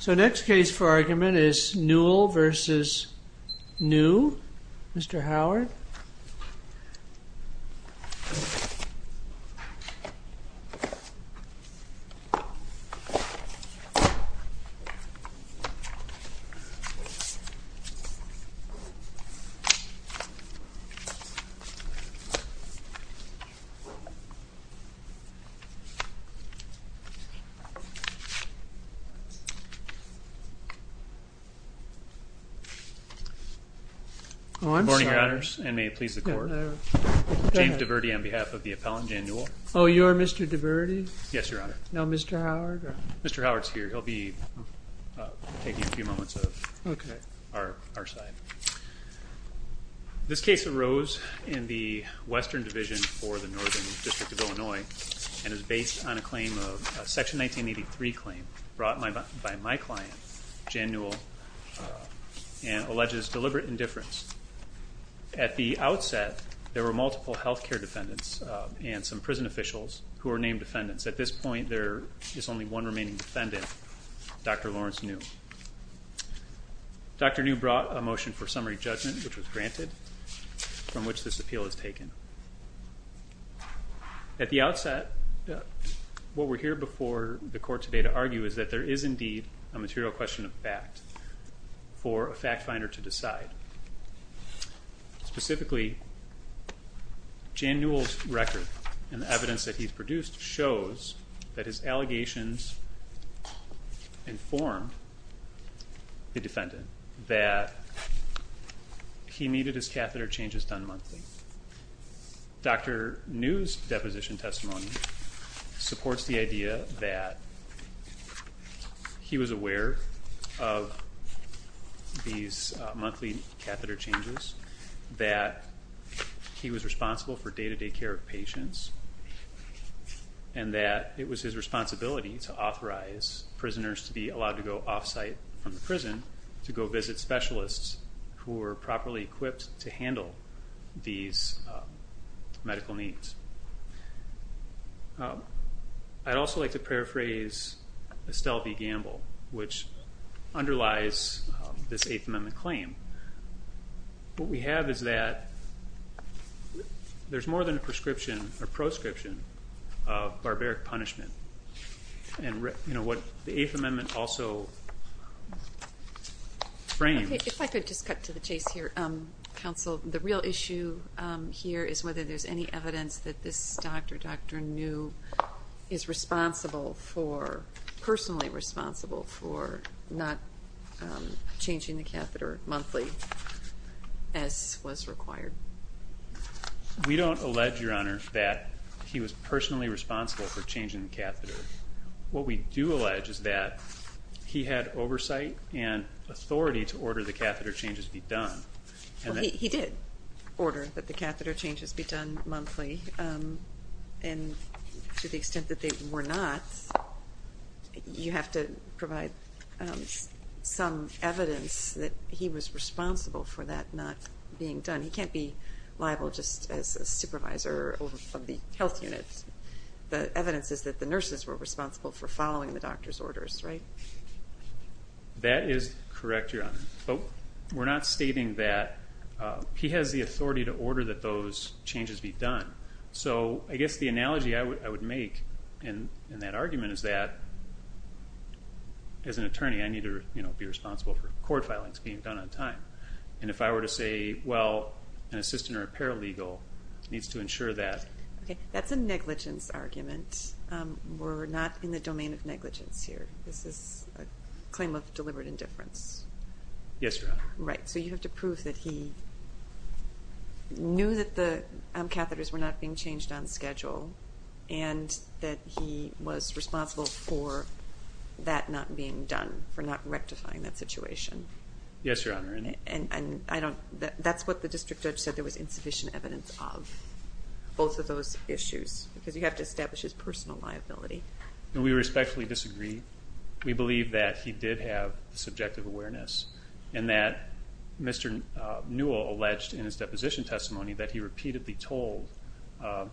So next case for argument is Newell versus New, Mr. Howard Mr. Howard is here, he'll be taking a few moments of our side. This case arose in the Western Division for the Northern District of Illinois and is based on a section 1983 claim brought by my client, Jan Newell, and alleges deliberate indifference. At the outset, there were multiple health care defendants and some prison officials who were named defendants. At this point, there is only one remaining defendant, Dr. Lawrence Newell. Dr. Newell brought a motion for summary judgment, which was granted, from which this appeal is taken. At the outset, what we're here before the Court today to argue is that there is indeed a material question of fact for a fact finder to decide. Specifically, Jan Newell's record and the evidence that he's produced shows that his Dr. Newell's deposition testimony supports the idea that he was aware of these monthly catheter changes, that he was responsible for day-to-day care of patients, and that it was his responsibility to authorize prisoners to be allowed to go off-site from the prison to go visit specialists who were properly equipped to handle these medical needs. I'd also like to paraphrase Estelle B. Gamble, which underlies this Eighth Amendment claim. What we have is that there's more than a proscription of barbaric punishment, and what the Eighth Amendment claims. If I could just cut to the chase here, counsel, the real issue here is whether there's any evidence that this doctor, Dr. Newell, is personally responsible for not changing the catheter monthly as was required. We don't allege, Your Honor, that he was personally responsible for changing the catheter. What we do allege is that he had oversight and authority to order the catheter changes be done. Well, he did order that the catheter changes be done monthly, and to the extent that they were not, you have to provide some evidence that he was responsible for that not being done. He can't be liable just as a supervisor of the health unit. The evidence is that the nurses were responsible for following the doctor's orders, right? That is correct, Your Honor, but we're not stating that he has the authority to order that those changes be done. So I guess the analogy I would make in that argument is that, as an attorney, I need to be responsible for court filings being done on time. And if I were to say, well, an assistant or a paralegal needs to ensure that. That's a negligence argument. We're not in the domain of negligence here. This is a claim of deliberate indifference. Yes, Your Honor. Right. So you have to prove that he knew that the catheters were not being changed on schedule and that he was responsible for that not being done, for not rectifying that situation. Yes, Your Honor. And that's what the district judge said, there was insufficient evidence of both of those issues, because you have to establish his personal liability. We respectfully disagree. We believe that he did have subjective awareness and that Mr. Newell alleged in his deposition testimony that he repeatedly told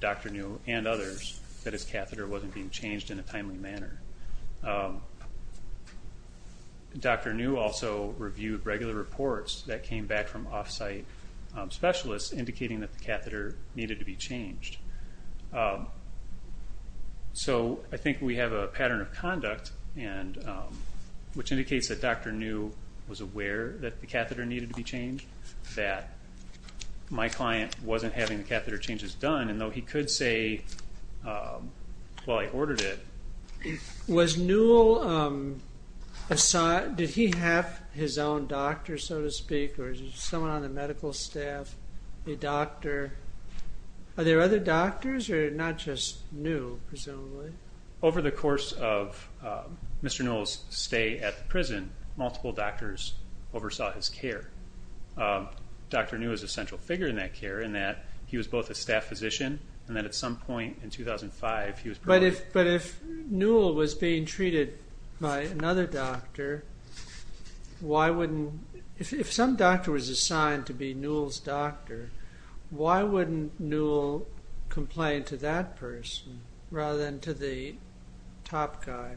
Dr. Newell and others that his catheter wasn't being changed in a timely manner. Dr. Newell also reviewed regular reports that came back from off-site specialists indicating that the catheter needed to be changed. So I think we have a pattern of conduct, which indicates that Dr. Newell was aware that the catheter needed to be changed, that my client wasn't having the catheter changes done, and though he could say, well, I ordered it. Was Newell, did he have his own doctor, so to speak, or was there someone on the medical staff, a doctor? Are there other doctors, or not just Newell, presumably? Over the course of Mr. Newell's stay at the prison, multiple doctors oversaw his care. Dr. Newell is a central figure in that care in that he was both a staff physician and that at some point in 2005 he was... But if Newell was being treated by another doctor, why wouldn't, if some doctor was assigned to be Newell's doctor, why wouldn't Newell complain to that person rather than to the top guy?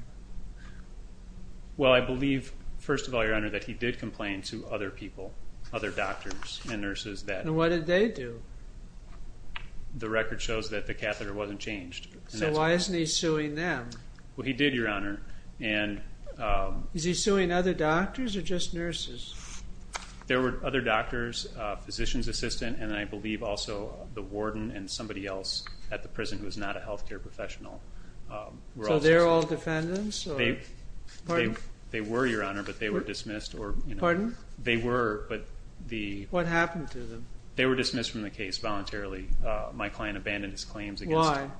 Well, I believe, first of all, Your Honor, that he did complain to other people, other doctors and nurses that... And what did they do? The record shows that the catheter wasn't changed. So why isn't he suing them? Well, he did, Your Honor, and... Is he suing other doctors or just nurses? There were other doctors, a physician's assistant, and I believe also the warden and somebody else at the prison who was not a health care professional were also suing. So they're all defendants? They were, Your Honor, but they were dismissed or... Pardon? They were, but the... What happened to them? They were dismissed from the case voluntarily. My client abandoned his claims against him. Why?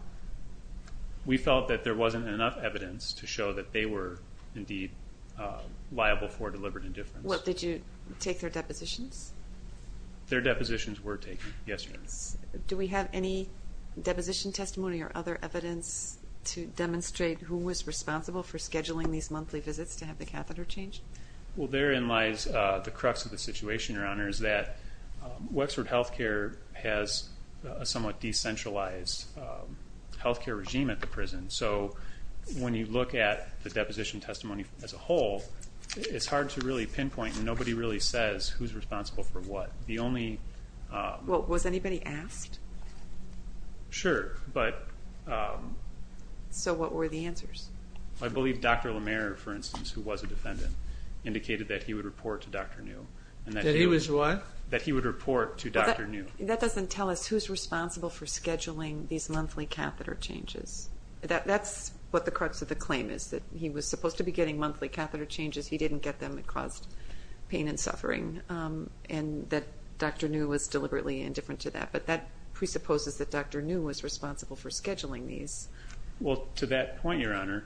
We felt that there wasn't enough evidence to show that they were, indeed, liable for deliberate indifference. Did you take their depositions? Their depositions were taken, yes, Your Honor. Do we have any deposition testimony or other evidence to demonstrate who was responsible for scheduling these monthly visits to have the catheter changed? Well, therein lies the crux of the situation, Your Honor, is that Wexford Health Care has a somewhat decentralized health care regime at the prison. So when you look at the deposition testimony as a whole, it's hard to really pinpoint, and nobody really says who's responsible for what. The only... Well, was anybody asked? Sure, but... So what were the answers? I believe Dr. LaMare, for instance, who was a defendant, indicated that he would report to Dr. New. That he was what? That he would report to Dr. New. That doesn't tell us who's responsible for scheduling these monthly catheter changes. That's what the crux of the claim is, that he was supposed to be getting monthly catheter changes. He didn't get them. pain and suffering, and that Dr. New was deliberately indifferent to that. But that presupposes that Dr. New was responsible for scheduling these. Well, to that point, Your Honor,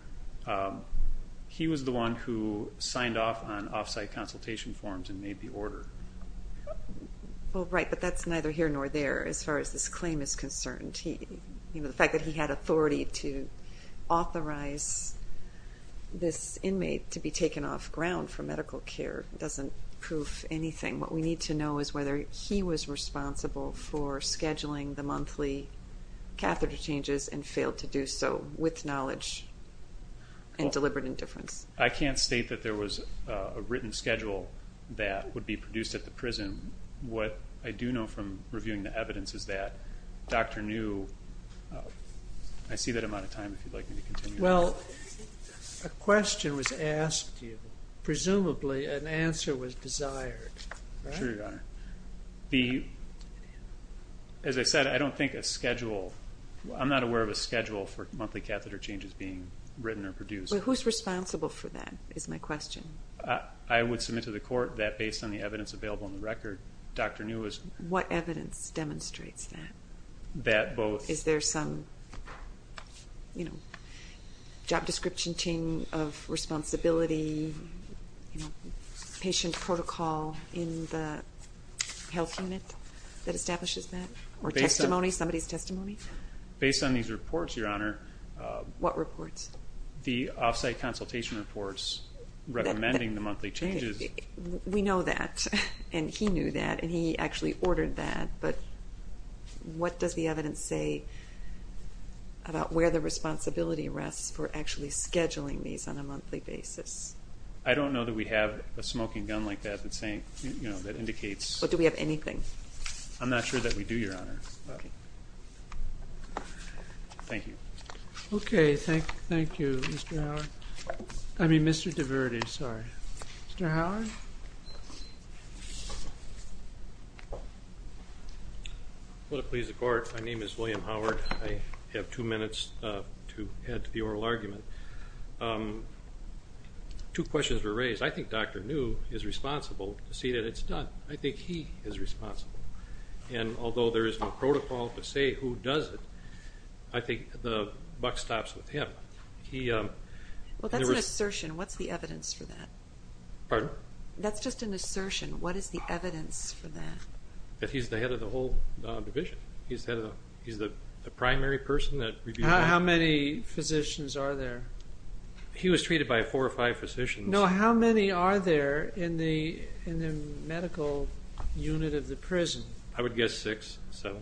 he was the one who signed off on off-site consultation forms and made the order. Well, right, but that's neither here nor there, as far as this claim is concerned. The fact that he had authority to authorize this inmate to be taken off ground for medical care doesn't prove anything. What we need to know is whether he was responsible for scheduling the monthly catheter changes and failed to do so with knowledge and deliberate indifference. I can't state that there was a written schedule that would be produced at the prison. What I do know from reviewing the evidence is that Dr. New, I see that I'm out of time, if you'd like me to continue. Well, a question was asked to you, presumably an answer was desired, right? Sure, Your Honor. As I said, I don't think a schedule, I'm not aware of a schedule for monthly catheter changes being written or produced. Who's responsible for that, is my question. I would submit to the court that based on the evidence available in the record, Dr. New is. What evidence demonstrates that? That both. Is there some, you know, job description team of responsibility, you know, patient protocol in the health unit that establishes that? Or testimony, somebody's testimony? Based on these reports, Your Honor. What reports? The off-site consultation reports recommending the monthly changes. We know that, and he knew that, and he actually ordered that. But what does the evidence say about where the responsibility rests for actually scheduling these on a monthly basis? I don't know that we have a smoking gun like that that indicates. But do we have anything? I'm not sure that we do, Your Honor. Thank you. Okay, thank you, Mr. Howard. I mean, Mr. DiVerti, sorry. Mr. Howard? Will it please the court, my name is William Howard. I have two minutes to add to the oral argument. Two questions were raised. I think Dr. New is responsible to see that it's done. I think he is responsible. And although there is no protocol to say who does it, I think the buck stops with him. Well, that's an assertion. What's the evidence for that? Pardon? That's just an assertion. What is the evidence for that? That he's the head of the whole division. He's the primary person that reviews. How many physicians are there? He was treated by four or five physicians. No, how many are there in the medical unit of the prison? I would guess six, seven.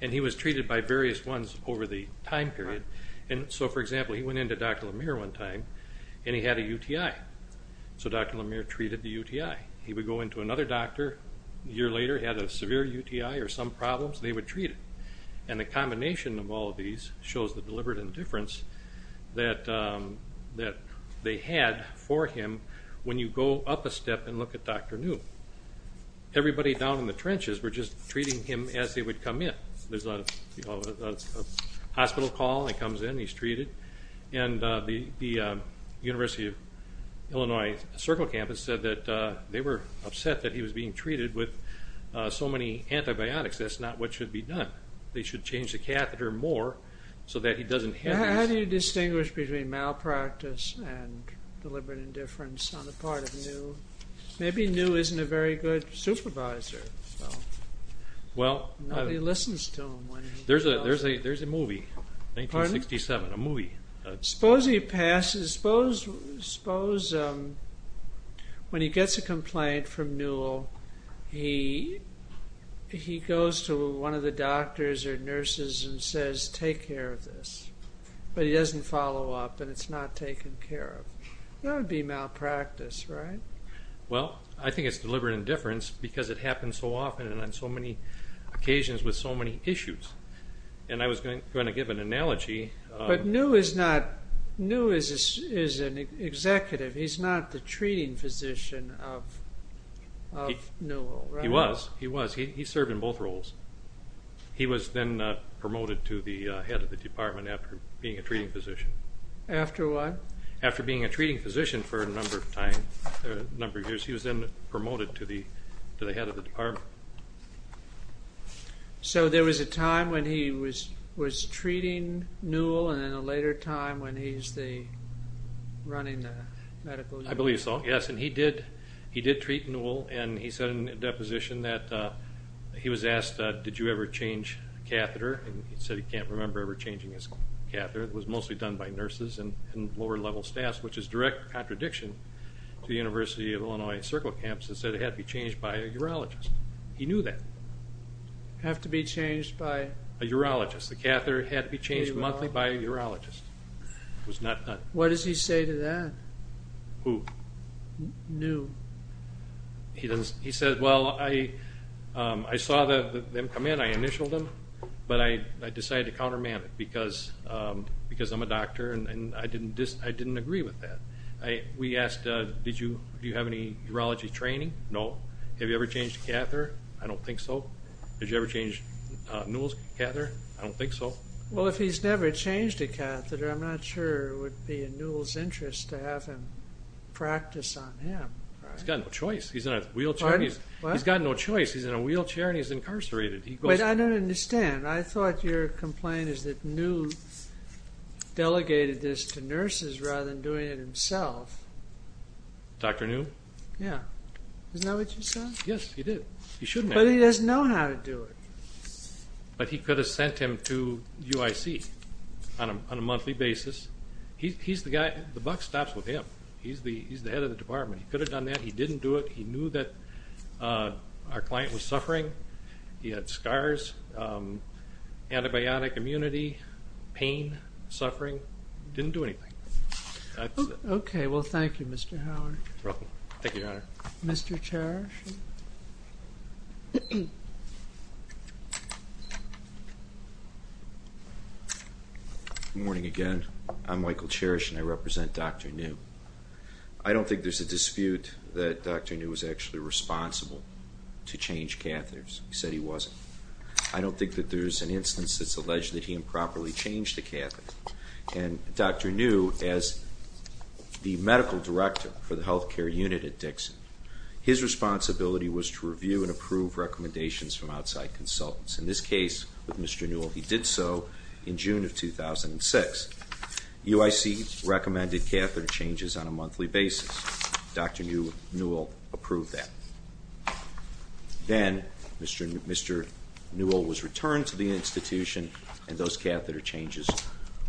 And he was treated by various ones over the time period. And so, for example, he went into Dr. Lemire one time, and he had a UTI. So Dr. Lemire treated the UTI. He would go into another doctor a year later, had a severe UTI or some problems, and they would treat it. And the combination of all of these shows the deliberate indifference that they had for him when you go up a step and look at Dr. New. Everybody down in the trenches were just treating him as they would come in. There's a hospital call, he comes in, he's treated. And the University of Illinois Circle Campus said that they were upset that he was being treated with so many antibiotics. That's not what should be done. They should change the catheter more so that he doesn't have these. How do you distinguish between malpractice and deliberate indifference on the part of New? Maybe New isn't a very good supervisor. Nobody listens to him. There's a movie, 1967, a movie. Suppose he passes, suppose when he gets a complaint from New, he goes to one of the doctors or nurses and says, take care of this. But he doesn't follow up, and it's not taken care of. That would be malpractice, right? Well, I think it's deliberate indifference because it happens so often and on so many occasions with so many issues. And I was going to give an analogy. But New is an executive. He's not the treating physician of Newell, right? He was. He served in both roles. He was then promoted to the head of the department after being a treating physician. After what? After being a treating physician for a number of years, he was then promoted to the head of the department. So there was a time when he was treating Newell and then a later time when he's running the medical unit. I believe so, yes. And he did treat Newell. And he said in a deposition that he was asked, did you ever change a catheter? And he said he can't remember ever changing his catheter. It was mostly done by nurses and lower-level staff, which is a direct contradiction to the University of Illinois circle camps. He said it had to be changed by a urologist. He knew that. It had to be changed by? A urologist. The catheter had to be changed monthly by a urologist. What does he say to that? Who? New. He said, well, I saw them come in, I initialed them, but I decided to counterman it because I'm a doctor and I didn't agree with that. We asked, do you have any urology training? No. Have you ever changed a catheter? I don't think so. Did you ever change Newell's catheter? I don't think so. Well, if he's never changed a catheter, I'm not sure it would be in Newell's interest to have him practice on him. He's got no choice. He's in a wheelchair and he's incarcerated. I don't understand. I thought your complaint is that Newell delegated this to nurses rather than doing it himself. Dr. New? Yeah. Isn't that what you said? Yes, he did. He shouldn't have. But he doesn't know how to do it. But he could have sent him to UIC on a monthly basis. The buck stops with him. He's the head of the department. He could have done that. He didn't do it. He knew that our client was suffering. He had scars, antibiotic immunity, pain, suffering. He didn't do anything. Okay. Well, thank you, Mr. Howard. You're welcome. Thank you, Your Honor. Mr. Cherish? Good morning again. I'm Michael Cherish and I represent Dr. New. I don't think there's a dispute that Dr. New was actually responsible to change catheters. He said he wasn't. I don't think that there's an instance that's alleged that he improperly changed a catheter. And Dr. New, as the medical director for the health care unit at Dixon, his responsibility was to review and approve recommendations from outside consultants. In this case, with Mr. Newell, he did so in June of 2006. UIC recommended catheter changes on a monthly basis. Dr. Newell approved that. Then Mr. Newell was returned to the institution and those catheter changes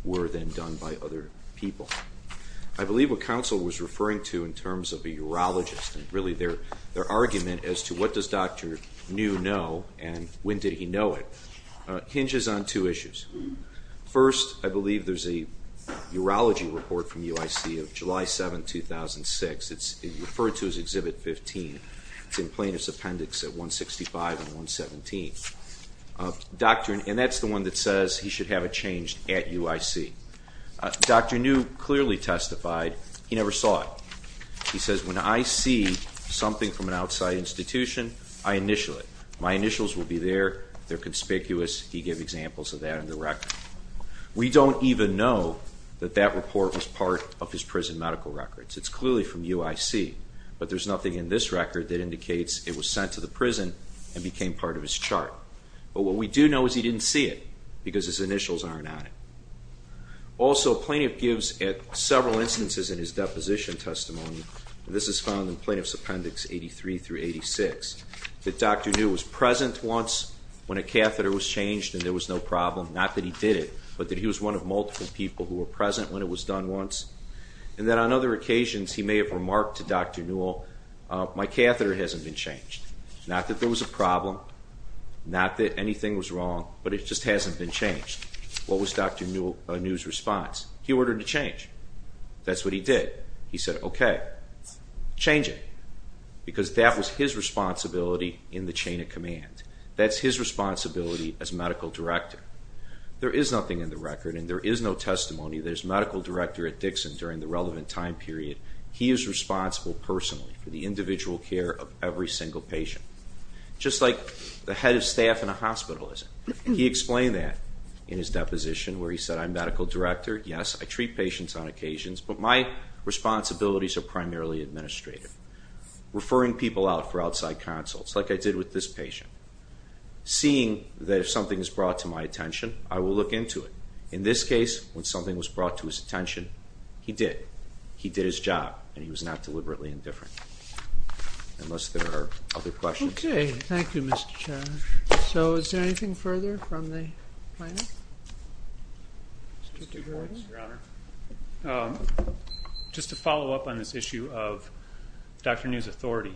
were then done by other people. I believe what counsel was referring to in terms of a urologist and really their argument as to what does Dr. New know and when did he know it hinges on two issues. First, I believe there's a urology report from UIC of July 7, 2006. It's referred to as Exhibit 15. It's in plaintiff's appendix at 165 and 117. And that's the one that says he should have it changed at UIC. Dr. New clearly testified he never saw it. He says, when I see something from an outside institution, I initial it. My initials will be there. They're conspicuous. He gave examples of that in the record. We don't even know that that report was part of his prison medical records. It's clearly from UIC. But there's nothing in this record that indicates it was sent to the prison and became part of his chart. But what we do know is he didn't see it because his initials aren't on it. Also, plaintiff gives at several instances in his deposition testimony, and this is found in Plaintiff's Appendix 83 through 86, that Dr. New was present once when a catheter was changed and there was no problem, not that he did it, but that he was one of multiple people who were present when it was done once. And that on other occasions he may have remarked to Dr. Newell, my catheter hasn't been changed. Not that there was a problem, not that anything was wrong, but it just hasn't been changed. What was Dr. Newell's response? He ordered a change. That's what he did. He said, okay, change it. Because that was his responsibility in the chain of command. That's his responsibility as medical director. There is nothing in the record and there is no testimony that as medical director at Dixon during the relevant time period, he is responsible personally for the individual care of every single patient. Just like the head of staff in a hospital isn't. He explained that in his deposition where he said, I'm medical director, yes, I treat patients on occasions, but my responsibilities are primarily administrative. Referring people out for outside consults, like I did with this patient. Seeing that if something is brought to my attention, I will look into it. In this case, when something was brought to his attention, he did. He did his job and he was not deliberately indifferent. Unless there are other questions. Okay. Thank you, Mr. Chairman. So is there anything further from the planning? Mr. Gordon. Just to follow up on this issue of Dr. Newell's authority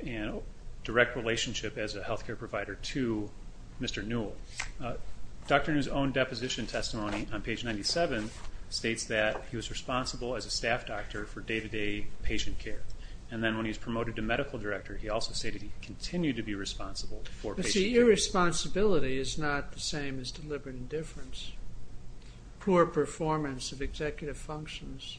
and direct relationship as a health care provider to Mr. Newell. Dr. Newell's own deposition testimony on page 97 states that he was responsible as a staff doctor for day-to-day patient care. And then when he was promoted to medical director, he also stated he continued to be responsible for patient care. But see, irresponsibility is not the same as deliberate indifference. Poor performance of executive functions.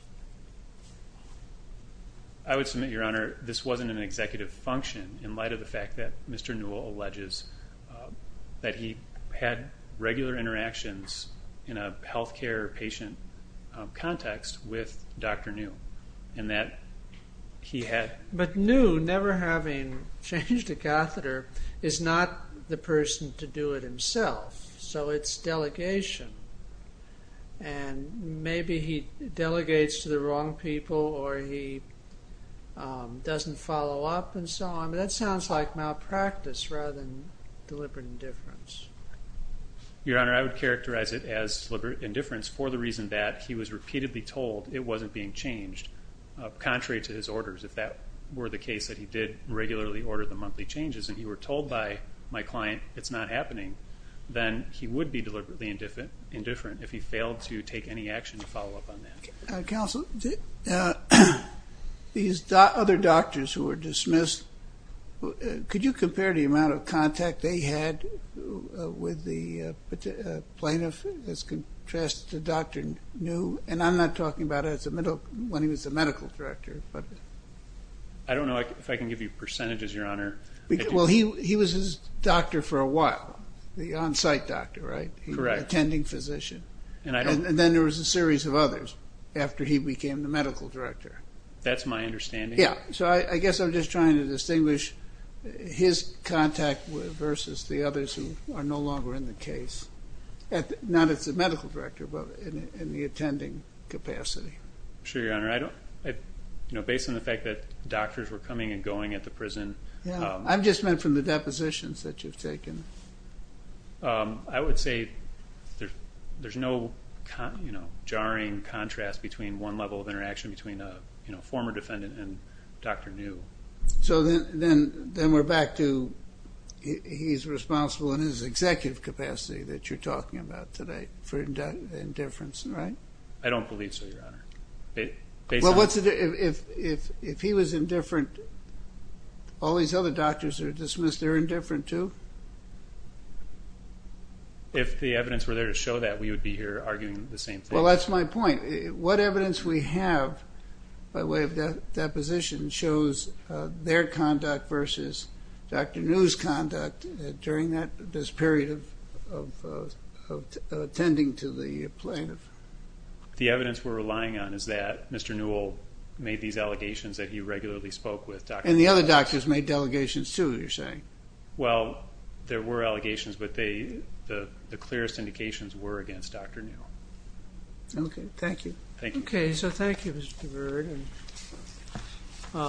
I would submit, Your Honor, this wasn't an executive function in light of the fact that Mr. Newell alleges that he had regular interactions in a health care patient context with Dr. New. But New, never having changed a catheter, is not the person to do it himself. So it's delegation. And maybe he delegates to the wrong people or he doesn't follow up and so on. But that sounds like malpractice rather than deliberate indifference. Your Honor, I would characterize it as deliberate indifference for the reason that he was repeatedly told it wasn't being changed, contrary to his orders. If that were the case, that he did regularly order the monthly changes and you were told by my client it's not happening, then he would be deliberately indifferent if he failed to take any action to follow up on that. Counsel, these other doctors who were dismissed, could you compare the amount of contact they had with the plaintiff as contrasted to Dr. New? And I'm not talking about when he was the medical director. I don't know if I can give you percentages, Your Honor. Well, he was his doctor for a while, the on-site doctor, right? Correct. Attending physician. And then there was a series of others after he became the medical director. That's my understanding. Yeah. So I guess I'm just trying to distinguish his contact versus the others who are no longer in the case. Not as the medical director, but in the attending capacity. Sure, Your Honor. Based on the fact that doctors were coming and going at the prison. I just meant from the depositions that you've taken. I would say there's no jarring contrast between one level of interaction between a former defendant and Dr. New. So then we're back to he's responsible in his executive capacity that you're talking about today for indifference, right? I don't believe so, Your Honor. Well, if he was indifferent, all these other doctors are dismissed, they're indifferent too? If the evidence were there to show that, we would be here arguing the same thing. Well, that's my point. What evidence we have by way of deposition shows their conduct versus Dr. New's conduct during this period of attending to the plaintiff? The evidence we're relying on is that Mr. Newell made these allegations that he regularly spoke with Dr. Newell. And the other doctors made delegations too, you're saying? Well, there were allegations, but the clearest indications were against Dr. New. Okay, thank you. Thank you. Okay, so thank you, Mr. Byrd.